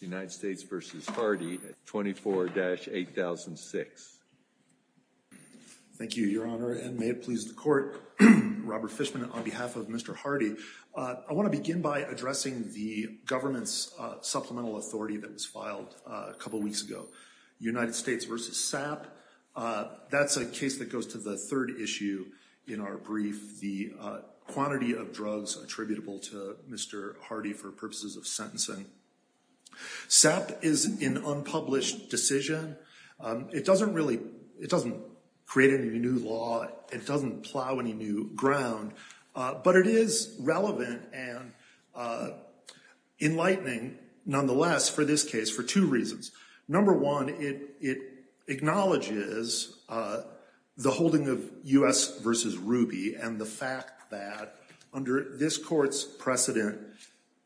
United States v. Hardy at 24-8006. Thank you, Your Honor, and may it please the court. Robert Fishman on behalf of Mr. Hardy. I want to begin by addressing the government's supplemental authority that was filed a couple weeks ago. United States v. SAP. That's a case that goes to the third issue in our brief, the quantity of drugs attributable to Mr. Hardy for purposes of sentencing. SAP is an unpublished decision. It doesn't really, it doesn't create any new law. It doesn't plow any new ground, but it is relevant and enlightening, nonetheless, for this case for two reasons. Number one, it acknowledges the holding of US v. Ruby and the fact that under this court's precedent,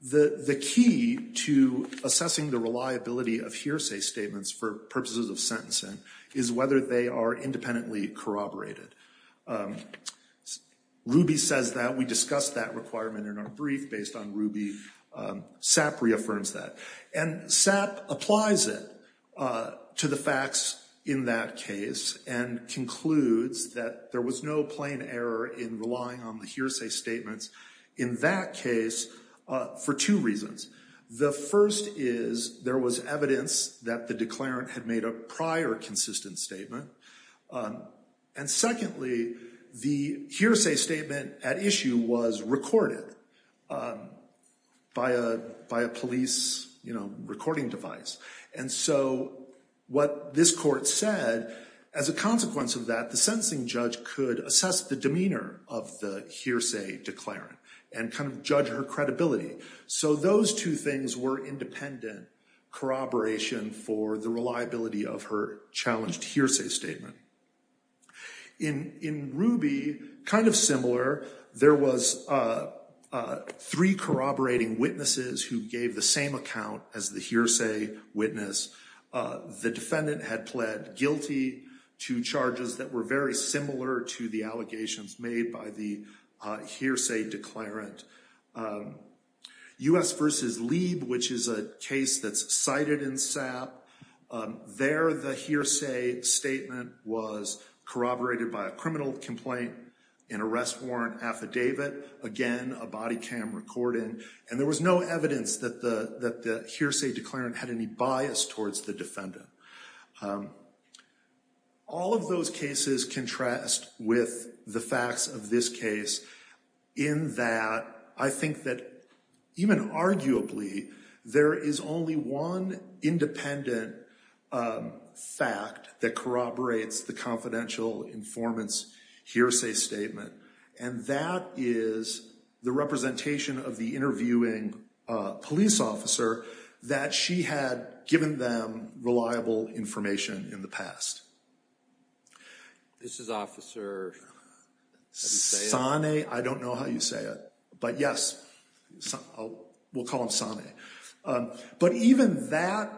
the key to assessing the reliability of hearsay statements for purposes of sentencing is whether they are independently corroborated. Ruby says that. We discussed that requirement in our brief based on Ruby. SAP reaffirms that, and SAP applies it to the facts in that case and concludes that there was no plain error in relying on the hearsay statements in that case for two reasons. The first is there was evidence that the declarant had made a prior consistent statement, and secondly, the hearsay statement at issue was recorded by a police, you know, what this court said, as a consequence of that, the sentencing judge could assess the demeanor of the hearsay declarant and kind of judge her credibility. So those two things were independent corroboration for the reliability of her challenged hearsay statement. In Ruby, kind of similar, there was three corroborating witnesses who gave the same account as the hearsay witness. The defendant had pled guilty to charges that were very similar to the allegations made by the hearsay declarant. US v. Lieb, which is a case that's cited in SAP, there the hearsay statement was corroborated by a criminal complaint, an arrest warrant affidavit, again a body cam recording, and there was no evidence that the hearsay declarant had any bias towards the defendant. All of those cases contrast with the facts of this case in that I think that even arguably there is only one independent fact that corroborates the confidential informants hearsay statement, and that is the representation of the interviewing police officer that she had given them reliable information in the past. This is officer Sane, I don't know how you say it, but yes, we'll call him Sane. But even that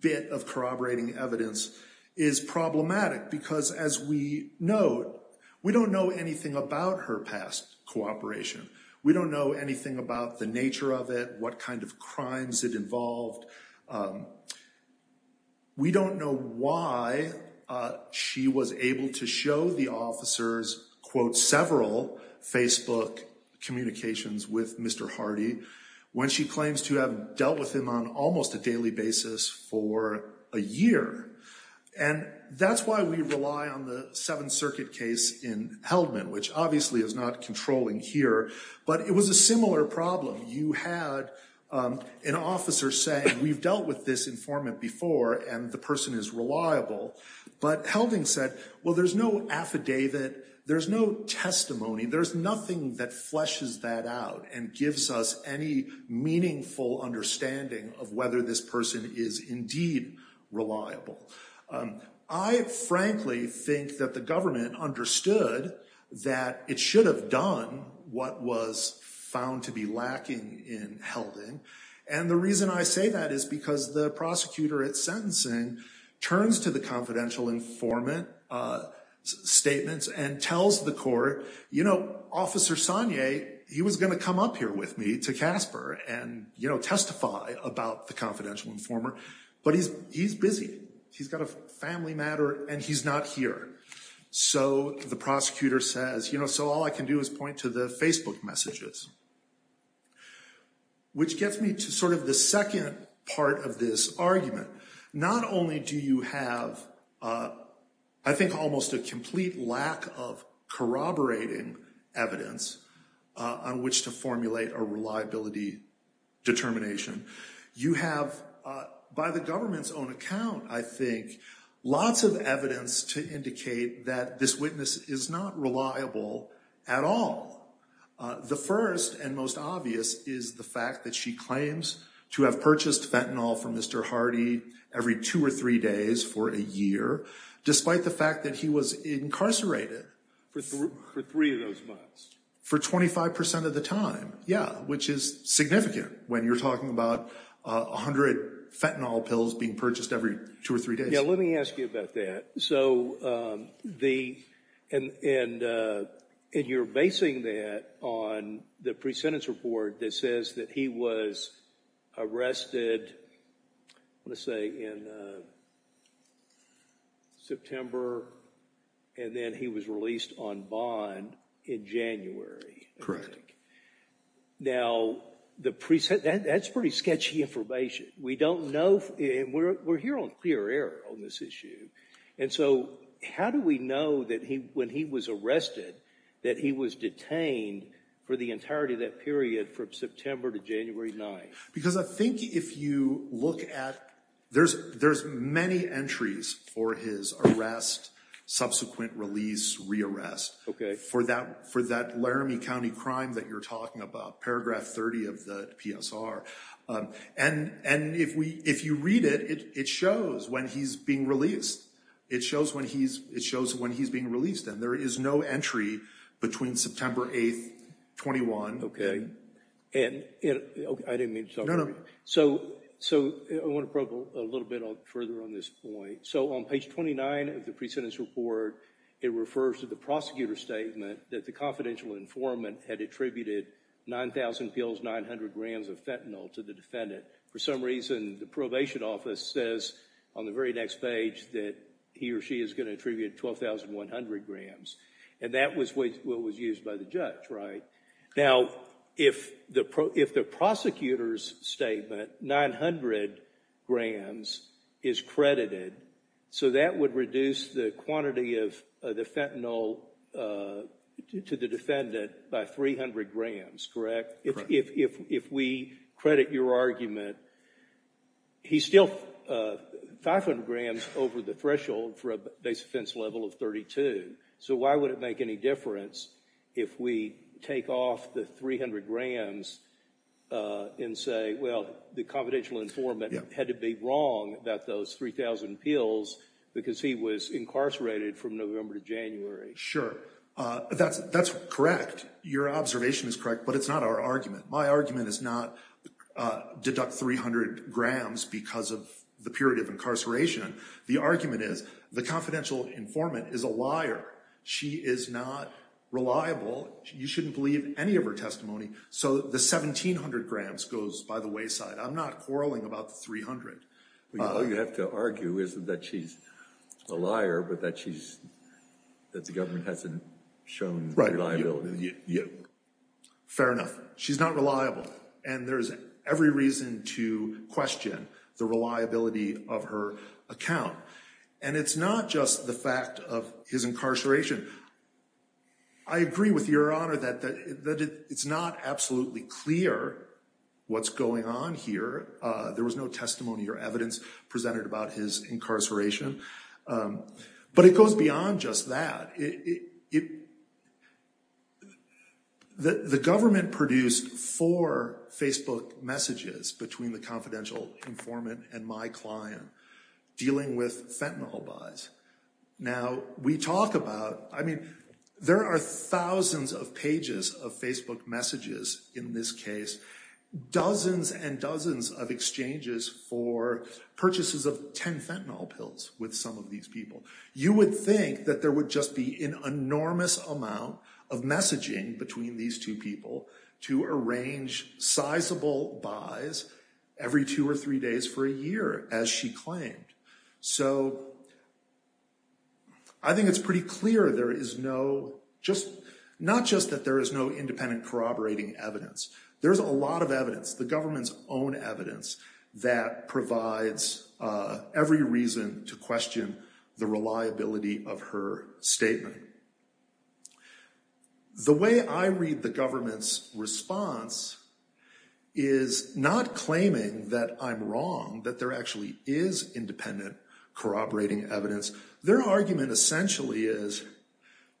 bit of corroborating evidence is problematic because as we know, we don't know anything about her past cooperation, we don't know anything about the nature of it, what kind of crimes it involved. We don't know why she was able to show the officers, quote, several Facebook communications with Mr. Hardy when she claims to have dealt with him on almost a daily basis for a year. And that's why we rely on the Seventh Circuit case in Heldman, which obviously is not controlling here, but it was a similar problem. You had an officer say, we've dealt with this informant before and the person is reliable, but Heldman said, well there's no affidavit, there's no testimony, there's nothing that fleshes that out and gives us any meaningful understanding of whether this person is indeed reliable. I frankly think that the government understood that it should have done what was found to be lacking in Heldman. And the reason I say that is because the prosecutor at sentencing turns to the confidential informant statements and tells the court, you know, Officer Sane, he was going to come up here with me to Casper and, you know, testify about the confidential informant, but he's busy. He's got a family matter and he's not here. So the prosecutor says, you know, so all I can do is point to the Facebook messages. Which gets me to sort of the second part of this argument. Not only do you have, I think, almost a complete lack of corroborating evidence on which to formulate a reliability determination, you have, by the government's own account, I think, lots of evidence to indicate that this witness is not reliable at all. The first and most obvious is the fact that she claims to have purchased fentanyl from Mr. Hardy every two or three days for a year, despite the fact that he was incarcerated for 25% of the time. Yeah, which is significant when you're talking about a hundred fentanyl pills being purchased every two or three days. Yeah, let me ask you about that. So, and you're basing that on the pre-sentence report that says that he was arrested, let's say, in September and then he was released on bond in January. Correct. Now, that's pretty sketchy information. We don't know, and we're here on clear air on this issue, and so how do we know that he, when he was arrested, that he was detained for the entirety of that period from September to January 9th? Because I think if you look at, there's many entries for his arrest, subsequent release, re-arrest, for that Laramie County crime that you're talking about, paragraph 30 of the PSR, and if you read it, it shows when he's being released. It shows when he's being released, and there is no entry between September 8th, 21. Okay, and I didn't mean to talk about it. No, no. So, I want to probe a little bit further on this point. So, on page 29 of the pre-sentence report, it refers to the prosecutor's statement that the confidential informant had attributed 9,000 pills, 900 grams of fentanyl to the defendant. For some reason, the probation office says on the very next page that he or she is going to And that was what was used by the judge, right? Now, if the prosecutor's statement, 900 grams, is credited, so that would reduce the quantity of the fentanyl to the defendant by 300 grams, correct? If we credit your argument, he's still 500 grams over the threshold for a base offense level of 32, so why would it make any difference if we take off the 300 grams and say, well, the confidential informant had to be wrong about those 3,000 pills because he was incarcerated from November to January. Sure, that's correct. Your observation is correct, but it's not our argument. My argument is not deduct 300 grams because of the period of incarceration. The argument is the informant is a liar. She is not reliable. You shouldn't believe any of her testimony, so the 1,700 grams goes by the wayside. I'm not quarreling about the 300. All you have to argue isn't that she's a liar, but that she's, that the government hasn't shown reliability. Yeah, fair enough. She's not reliable, and there's every reason to question the reliability of her account, and it's not just the fact of his incarceration. I agree with Your Honor that it's not absolutely clear what's going on here. There was no testimony or evidence presented about his incarceration, but it goes beyond just that. The government produced four Facebook messages between the confidential informant and my client dealing with fentanyl buys. Now, we talk about, I mean, there are thousands of pages of Facebook messages in this case, dozens and dozens of exchanges for purchases of 10 fentanyl pills with some of these people. You would think that there would just be an enormous amount of messaging between these two people to arrange sizable buys every two or three days for a year, as she claimed. So I think it's pretty clear there is no, just, not just that there is no independent corroborating evidence. There's a lot of evidence, the government's own evidence, that provides every reason to question the reliability of her statement. The way I read the government's response is not claiming that I'm wrong, that there actually is independent corroborating evidence. Their argument essentially is,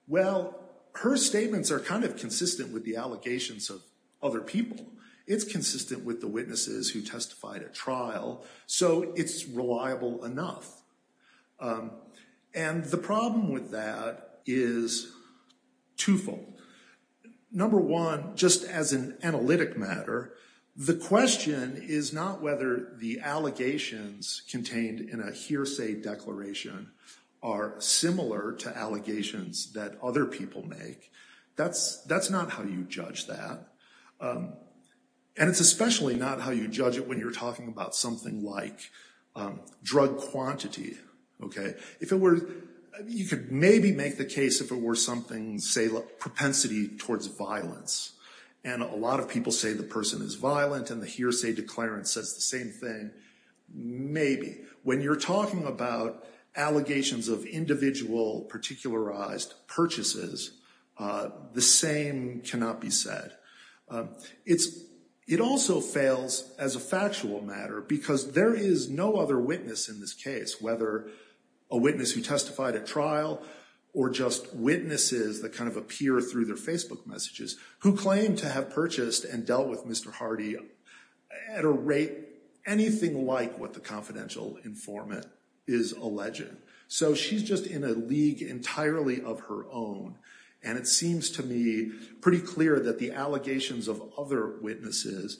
well, her statements are kind of consistent with the allegations of other people. It's consistent with the witnesses who testified at trial. So it's reliable enough. And the problem with that is twofold. Number one, just as an analytic matter, the question is not whether the allegations contained in a hearsay declaration are similar to allegations that other people make. That's not how you judge that. And it's especially not how you judge it when you're talking about something like drug quantity, okay? If it were, you could maybe make the case if it were something, say, propensity towards violence. And a lot of people say the person is violent and the hearsay declarant says the same thing. Maybe. When you're talking about allegations of individual particularized purchases, the same cannot be said. It also fails as a factual matter because there is no other witness in this case, whether a witness who testified at trial or just witnesses that kind of appear through their Facebook messages, who claim to have purchased and dealt with Mr. Hardy at a anything like what the confidential informant is alleging. So she's just in a league entirely of her own and it seems to me pretty clear that the allegations of other witnesses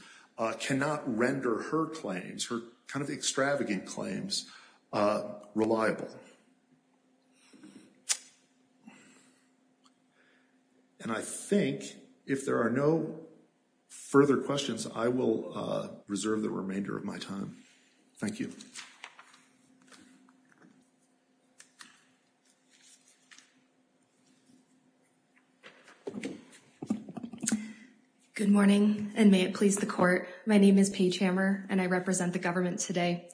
cannot render her claims, her kind of extravagant claims, reliable. And I think if there are no further questions I will reserve the remainder of my time. Thank you. Good morning and may it please the court. My name is Paige Hammer and I represent the government today.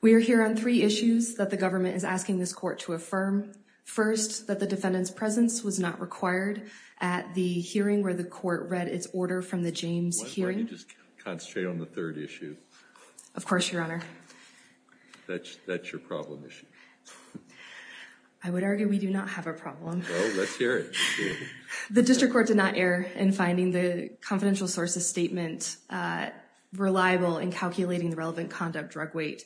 We are here on three issues that the government is asking this court to affirm. First, that the defendant's presence was not required at the hearing where the court read its order from the James hearing. Can you just concentrate on the third issue? Of course, your honor. That's your problem issue. I would argue we do not have a problem. The district court did not err in finding the confidential sources statement reliable in calculating the relevant conduct drug weight.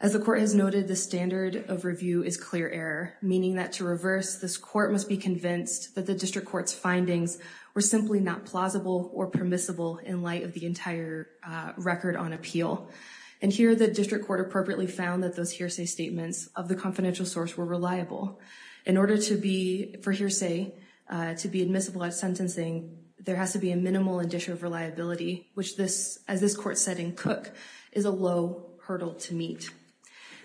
As the court has noted, the standard of review is clear error, meaning that to reverse this court must be convinced that the district court's findings were simply not plausible or permissible in light of the entire record on appeal. And here the district court appropriately found that those hearsay statements of the confidential source were reliable. In order to be, for hearsay, to be admissible at sentencing there has to be a minimal addition of reliability, which this, as this court said in Cook, is a low hurdle to meet.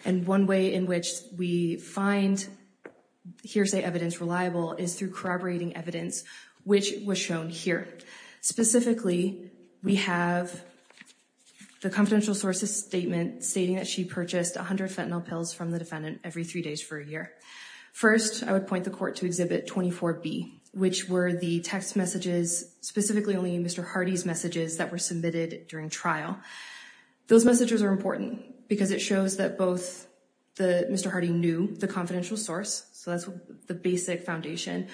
And one way in which we find hearsay evidence reliable is through corroborating evidence, which was shown here. Specifically, we have the confidential sources statement stating that she purchased a hundred fentanyl pills from the defendant every three days for a year. First, I would point the court to Exhibit 24B, which were the text messages, specifically only Mr. Hardy's messages, that were submitted during trial. Those messages are important because it shows that both the, Mr. Hardy knew the confidential source, so that's the basic foundation,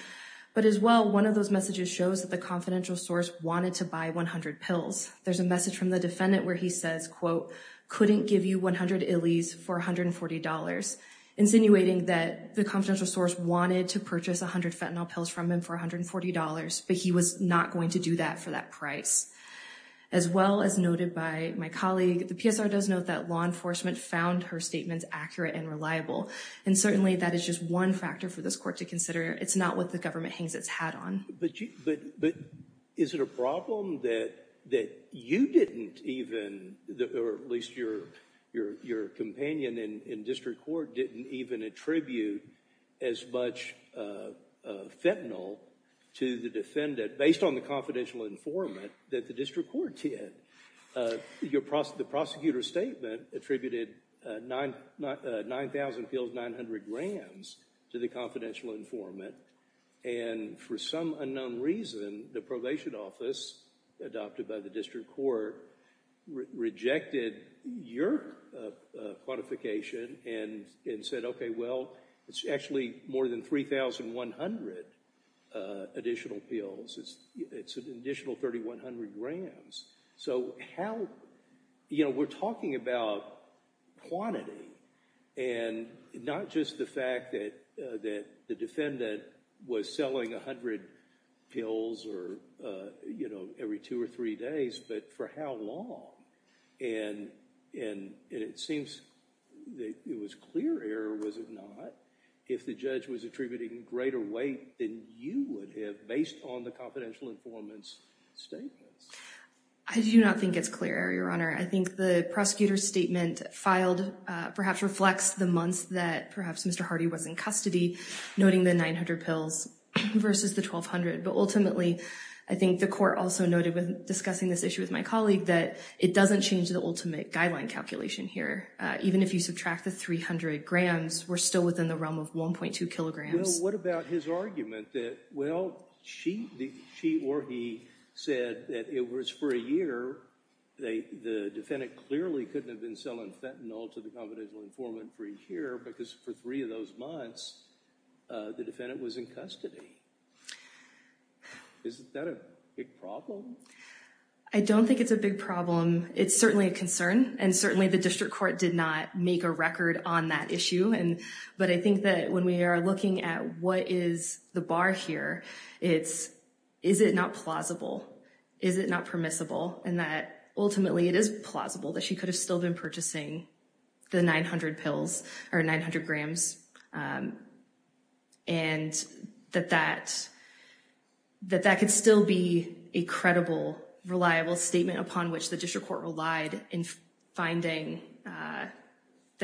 but as well one of those messages shows that the confidential source wanted to buy 100 pills. There's a message from the defendant where he says, quote, couldn't give you 100 illies for $140, insinuating that the confidential source wanted to purchase a hundred fentanyl pills from him for $140, but he was not going to do that for that price. As well, as noted by my colleague, the PSR does note that law enforcement found her statements accurate and reliable, and certainly that is just one factor for this court to consider. It's not what the government hangs its hat on. But is it a problem that you didn't even, or at least your companion in district court, didn't even attribute as much fentanyl to the defendant, based on the confidential informant that the district court did? The prosecutor's statement attributed 9,000 pills, 900 grams, to the confidential informant and for some unknown reason, the probation office adopted by the district court rejected your quantification and said, okay, well, it's actually more than 3,100 additional pills. It's an additional 3,100 grams. So how... we're talking about quantity and not just the fact that the defendant was selling a hundred pills every two or three days, but for how long? And it seems that it was clear error, was it not, if the judge was attributing greater weight than you would have based on the confidential informant's statements. I do not think it's clear error, Your Honor. I think the prosecutor's statement filed perhaps reflects the months that perhaps Mr. Hardy was in custody, noting the 900 pills versus the 1,200. But ultimately, I think the court also noted when discussing this issue with my colleague that it doesn't change the ultimate guideline calculation here. Even if you subtract the 300 grams, we're still within the realm of 1.2 kilograms. Well, what about his argument that, well, she or he said that it was for a year, the defendant clearly couldn't have been selling fentanyl to the confidential informant for a year because for three of those months, the defendant was in custody. Isn't that a big problem? I don't think it's a big problem. It's certainly a concern and certainly the district court did not make a record on that issue. But I think that when we are looking at what is the bar here, it's is it not plausible? Is it not permissible? And that ultimately, it is plausible that she could have still been purchasing the 900 pills or 900 grams. And that that could still be a credible, reliable statement upon which the district court relied in finding that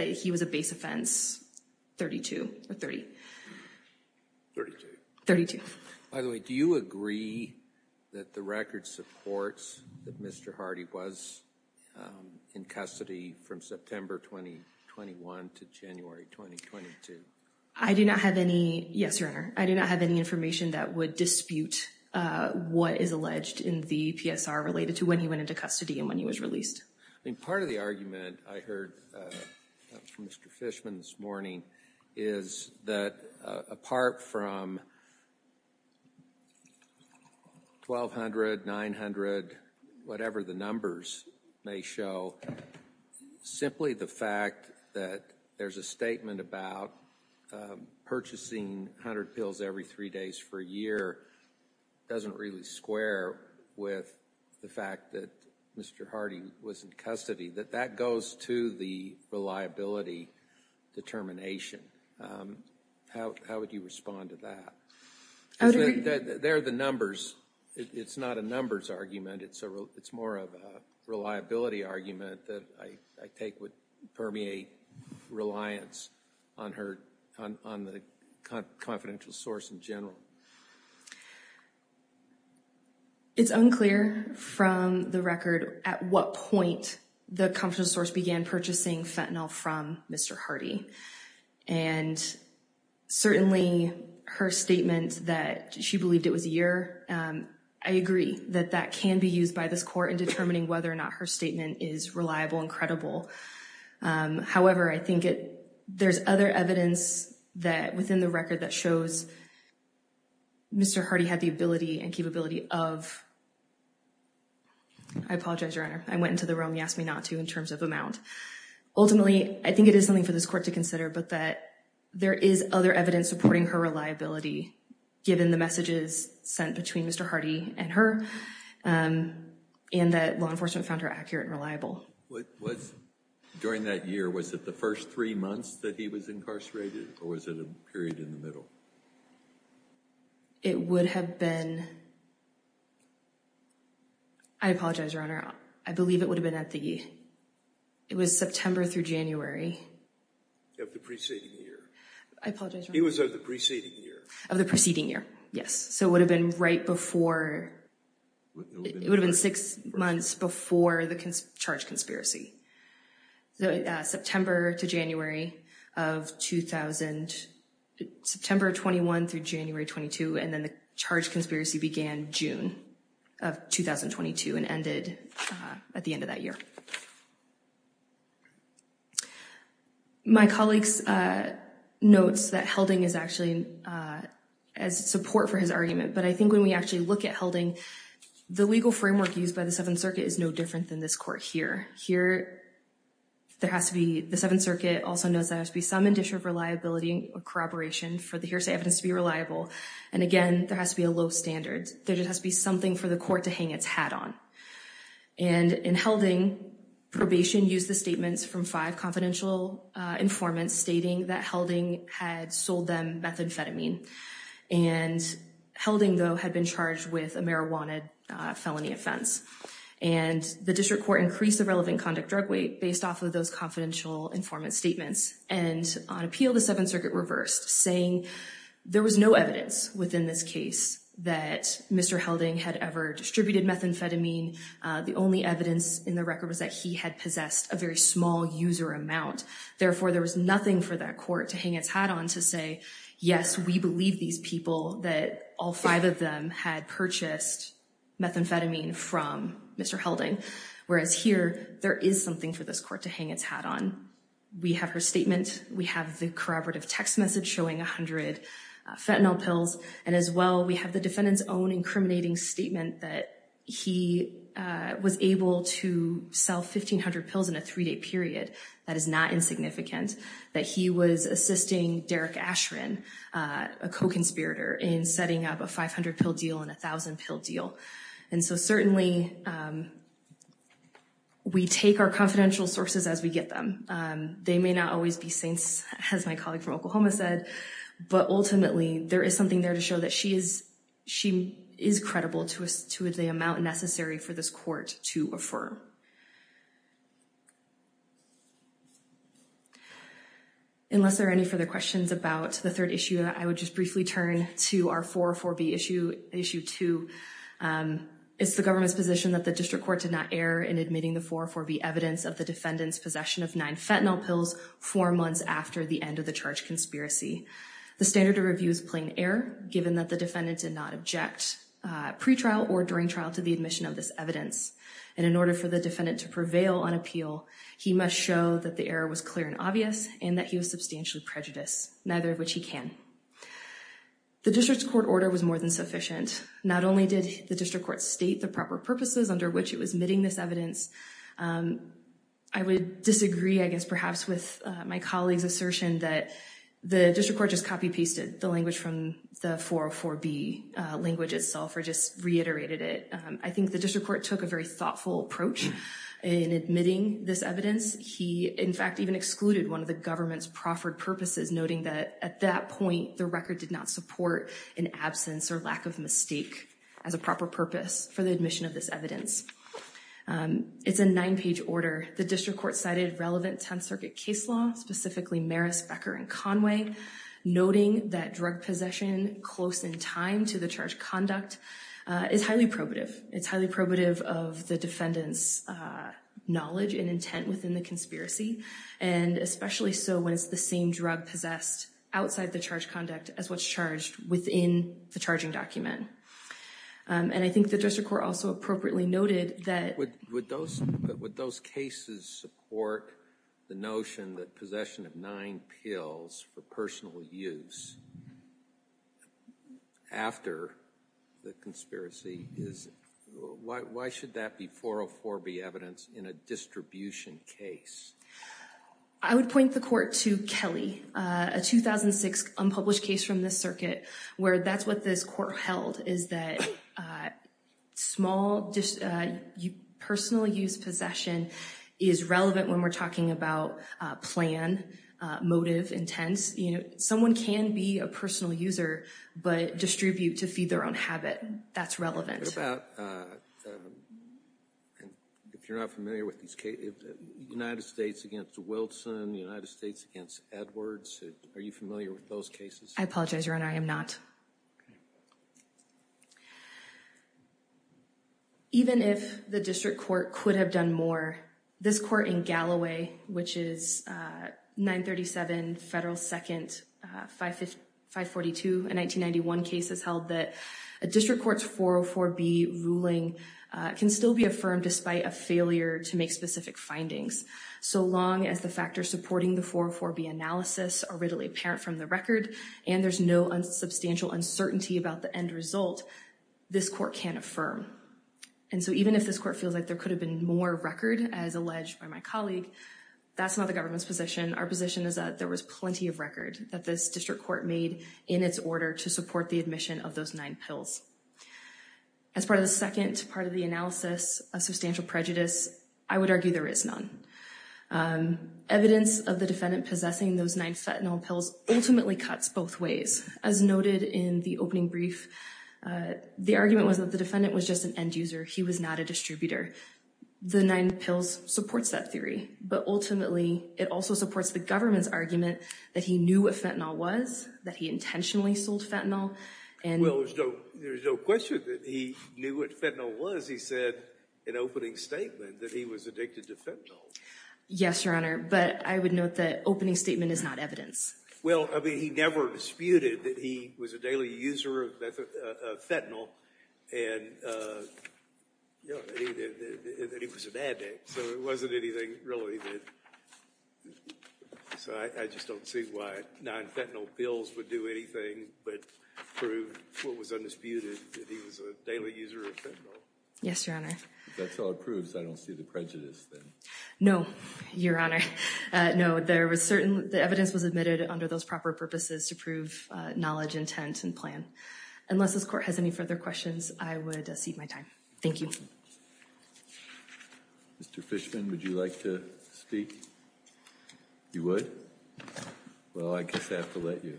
he was a base offense 32 or 30. 32. By the way, do you agree that the record supports that Mr. Hardy was in custody from September 2021 to January 2022? I do not have any, yes, your honor, I do not have any information that would dispute what is alleged in the PSR related to when he went into custody and when he was released. I mean part of the argument I heard from Mr. Fishman this morning is that apart from 1200, 900, whatever the numbers may show, simply the fact that there's a statement about purchasing 100 pills every three days for a year doesn't really square with the fact that Mr. Hardy was in custody. That that goes to the reliability determination. How would you respond to that? They're the numbers, it's not a numbers argument, it's a real, it's more of a reliability argument that I take would permeate reliance on her, on the confidential source in general. It's unclear from the record at what point the confidential source began purchasing fentanyl from Mr. Hardy and certainly her statement that she believed it was a year, I agree that that can be used by this court in determining whether or not her statement is reliable and credible. However, I think there's other evidence that within the record that shows Mr. Hardy had the ability and capability of, I apologize your honor, I went into the room you asked me not to in terms of amount. Ultimately I think it is something for this court to consider but that there is other evidence supporting her reliability given the messages sent between Mr. Hardy and her and that law enforcement found her reliable. What was, during that year, was it the first three months that he was incarcerated or was it a period in the middle? It would have been, I apologize your honor, I believe it would have been at the, it was September through January of the preceding year. I apologize. It was of the preceding year. Of the preceding year, yes. So it would have been right before, it would have been six months before the charge conspiracy. So September to January of 2000, September 21 through January 22 and then the charge conspiracy began June of 2022 and ended at the end of that year. My colleagues notes that Helding is actually as support for his argument but I think when we actually look at Helding the legal framework used by the Seventh Circuit is no different than this court here. Here, there has to be, the Seventh Circuit also knows there has to be some addition of reliability or corroboration for the hearsay evidence to be reliable and again there has to be a low standard. There just has to be something for the court to hang its hat on and in Helding, probation used the statements from five confidential informants stating that Helding had sold them methamphetamine and Helding though had been charged with a marijuana felony offense and the district court increased the relevant conduct drug weight based off of those confidential informant statements and on appeal the Seventh Circuit reversed saying there was no evidence within this case that Mr. Helding had ever distributed methamphetamine. The only evidence in the record was that he had possessed a very small user amount. Therefore, there was nothing for that court to hang its hat on to say yes we believe these people that all five of them had purchased methamphetamine from Mr. Helding whereas here there is something for this court to hang its hat on. We have her statement, we have the corroborative text message showing 100 fentanyl pills and as well we have the defendant's own incriminating statement that he was able to sell 1,500 pills in a period that is not insignificant, that he was assisting Derek Ashren, a co-conspirator, in setting up a 500 pill deal and a thousand pill deal and so certainly we take our confidential sources as we get them. They may not always be saints as my colleague from Oklahoma said but ultimately there is something there to show that she is she is credible to us to the amount necessary for this court to affirm. Unless there are any further questions about the third issue I would just briefly turn to our 404b issue issue 2. It's the government's position that the district court did not err in admitting the 404b evidence of the defendant's possession of nine fentanyl pills four months after the end of the charge conspiracy. The standard of review is plain error given that the defendant did not object pre-trial or during trial to the admission of this evidence and in order for the defendant to prevail on appeal he must show that the error was clear and obvious and that he was substantially prejudiced, neither of which he can. The district court order was more than sufficient. Not only did the district court state the proper purposes under which it was admitting this evidence, I would disagree I guess perhaps with my colleagues assertion that the district court just copy pasted the language from the 404b language itself or just reiterated it. I think the district court took a very thoughtful approach in admitting this evidence. He in fact even excluded one of the government's proffered purposes noting that at that point the record did not support an absence or lack of mistake as a proper purpose for the admission of this evidence. It's a nine page order. The district court cited relevant 10th Circuit case law, specifically Maris, Becker, and Conway noting that drug possession close in time to the charge conduct is highly probative. It's highly probative of the defendants knowledge and intent within the conspiracy and especially so when it's the same drug possessed outside the charge conduct as what's charged within the charging document. And I think the district court also appropriately noted that with those with those cases support the notion that possession of nine pills for personal use after the conspiracy is, why should that be 404b evidence in a distribution case? I would point the court to Kelly, a 2006 unpublished case from this circuit where that's what this court held is that small just you personal use possession is relevant when we're talking about plan, motive, intents. You know someone can be a personal user but distribute to feed their own habit. That's relevant. If you're not familiar with these cases, United States against Wilson, United States against Edwards, are you familiar with those cases? I apologize your honor, I am not. Even if the district court could have done more, this court in Galloway which is 937 Federal 2nd 542, a 1991 case is held that a district court's 404b ruling can still be affirmed despite a failure to make specific findings. So long as the factors supporting the 404b analysis are apparent from the record and there's no unsubstantial uncertainty about the end result, this court can't affirm. And so even if this court feels like there could have been more record as alleged by my colleague, that's not the government's position. Our position is that there was plenty of record that this district court made in its order to support the admission of those nine pills. As part of the second part of the analysis of substantial prejudice, I would argue there is none. Evidence of the defendant possessing those nine fentanyl pills ultimately cuts both ways. As noted in the opening brief, the argument was that the defendant was just an end-user, he was not a distributor. The nine pills supports that theory, but ultimately it also supports the government's argument that he knew what fentanyl was, that he intentionally sold fentanyl. Well there's no question that he knew what fentanyl was, he said in opening statement that he was addicted to fentanyl. Yes your honor, but I would note that opening statement is not evidence. Well I mean he never disputed that he was a daily user of fentanyl and that he was an addict, so it wasn't anything related. So I just don't see why nine fentanyl pills would do anything but prove what was undisputed, that he was a daily user of fentanyl. Yes your honor. If that's all it proves, I don't see the prejudice then. No your honor, no there was certain, the evidence was admitted under those proper purposes to prove knowledge, intent, and plan. Unless this court has any further questions, I would cede my time. Thank you. Mr. Fishman, would you like to speak? You would? Well I guess I have to let you.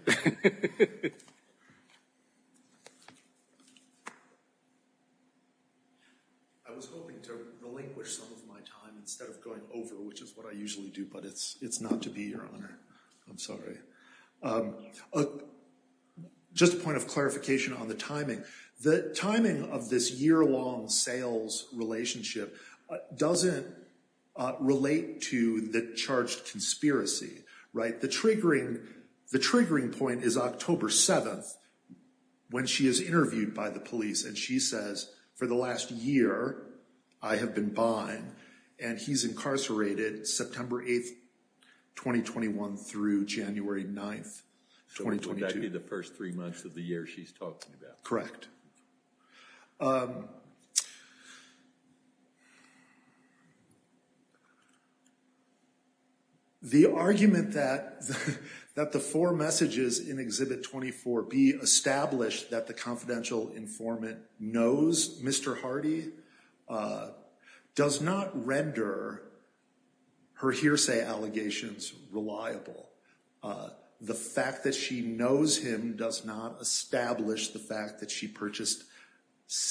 I was hoping to relinquish some of my time instead of going over, which is what I usually do, but it's not to be your honor. I'm sorry. Just a point of clarification on the timing. The timing of this year-long sales relationship doesn't relate to the charged conspiracy, right? The triggering, the triggering point is October 7th when she is interviewed by the police and she says, for the last year I have been buying, and he's incarcerated September 8th, 2021 through January 9th, 2022. So that would be the first three months of the year she's talking about. Correct. The argument that the four messages in Exhibit 24B establish that the confidential informant knows Mr. Hardy does not render her hearsay allegations reliable. The fact that she knows him does not establish the fact that she purchased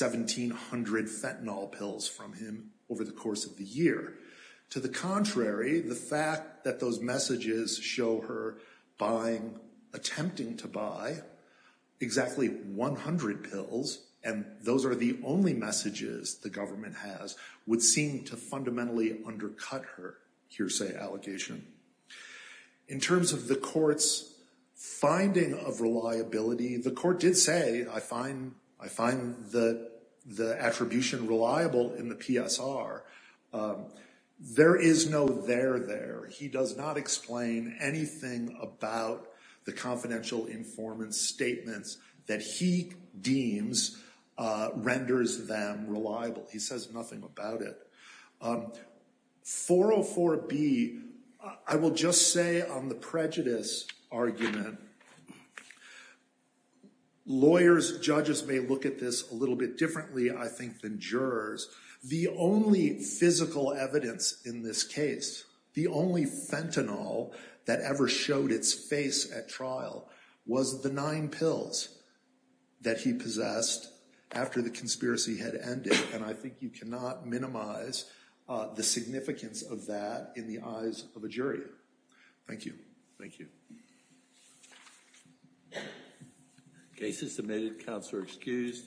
1,700 fentanyl pills from him over the course of the year. To the contrary, the fact that those messages show her buying, attempting to buy, exactly 100 pills, and those are the only messages the government has, would seem to fundamentally undercut her hearsay allegation. In terms of the court's finding of reliability, the court did say, I find, I find that the attribution reliable in the PSR. There is no there there. He does not explain anything about the confidential informant's statements that he deems renders them reliable. He does not. 404B, I will just say on the prejudice argument, lawyers, judges may look at this a little bit differently, I think, than jurors. The only physical evidence in this case, the only fentanyl that ever showed its face at trial was the nine pills that he possessed after the conspiracy had ended, and I think you cannot minimize the significance of that in the eyes of a jury. Thank you. Thank you. Cases submitted. Counselor excused.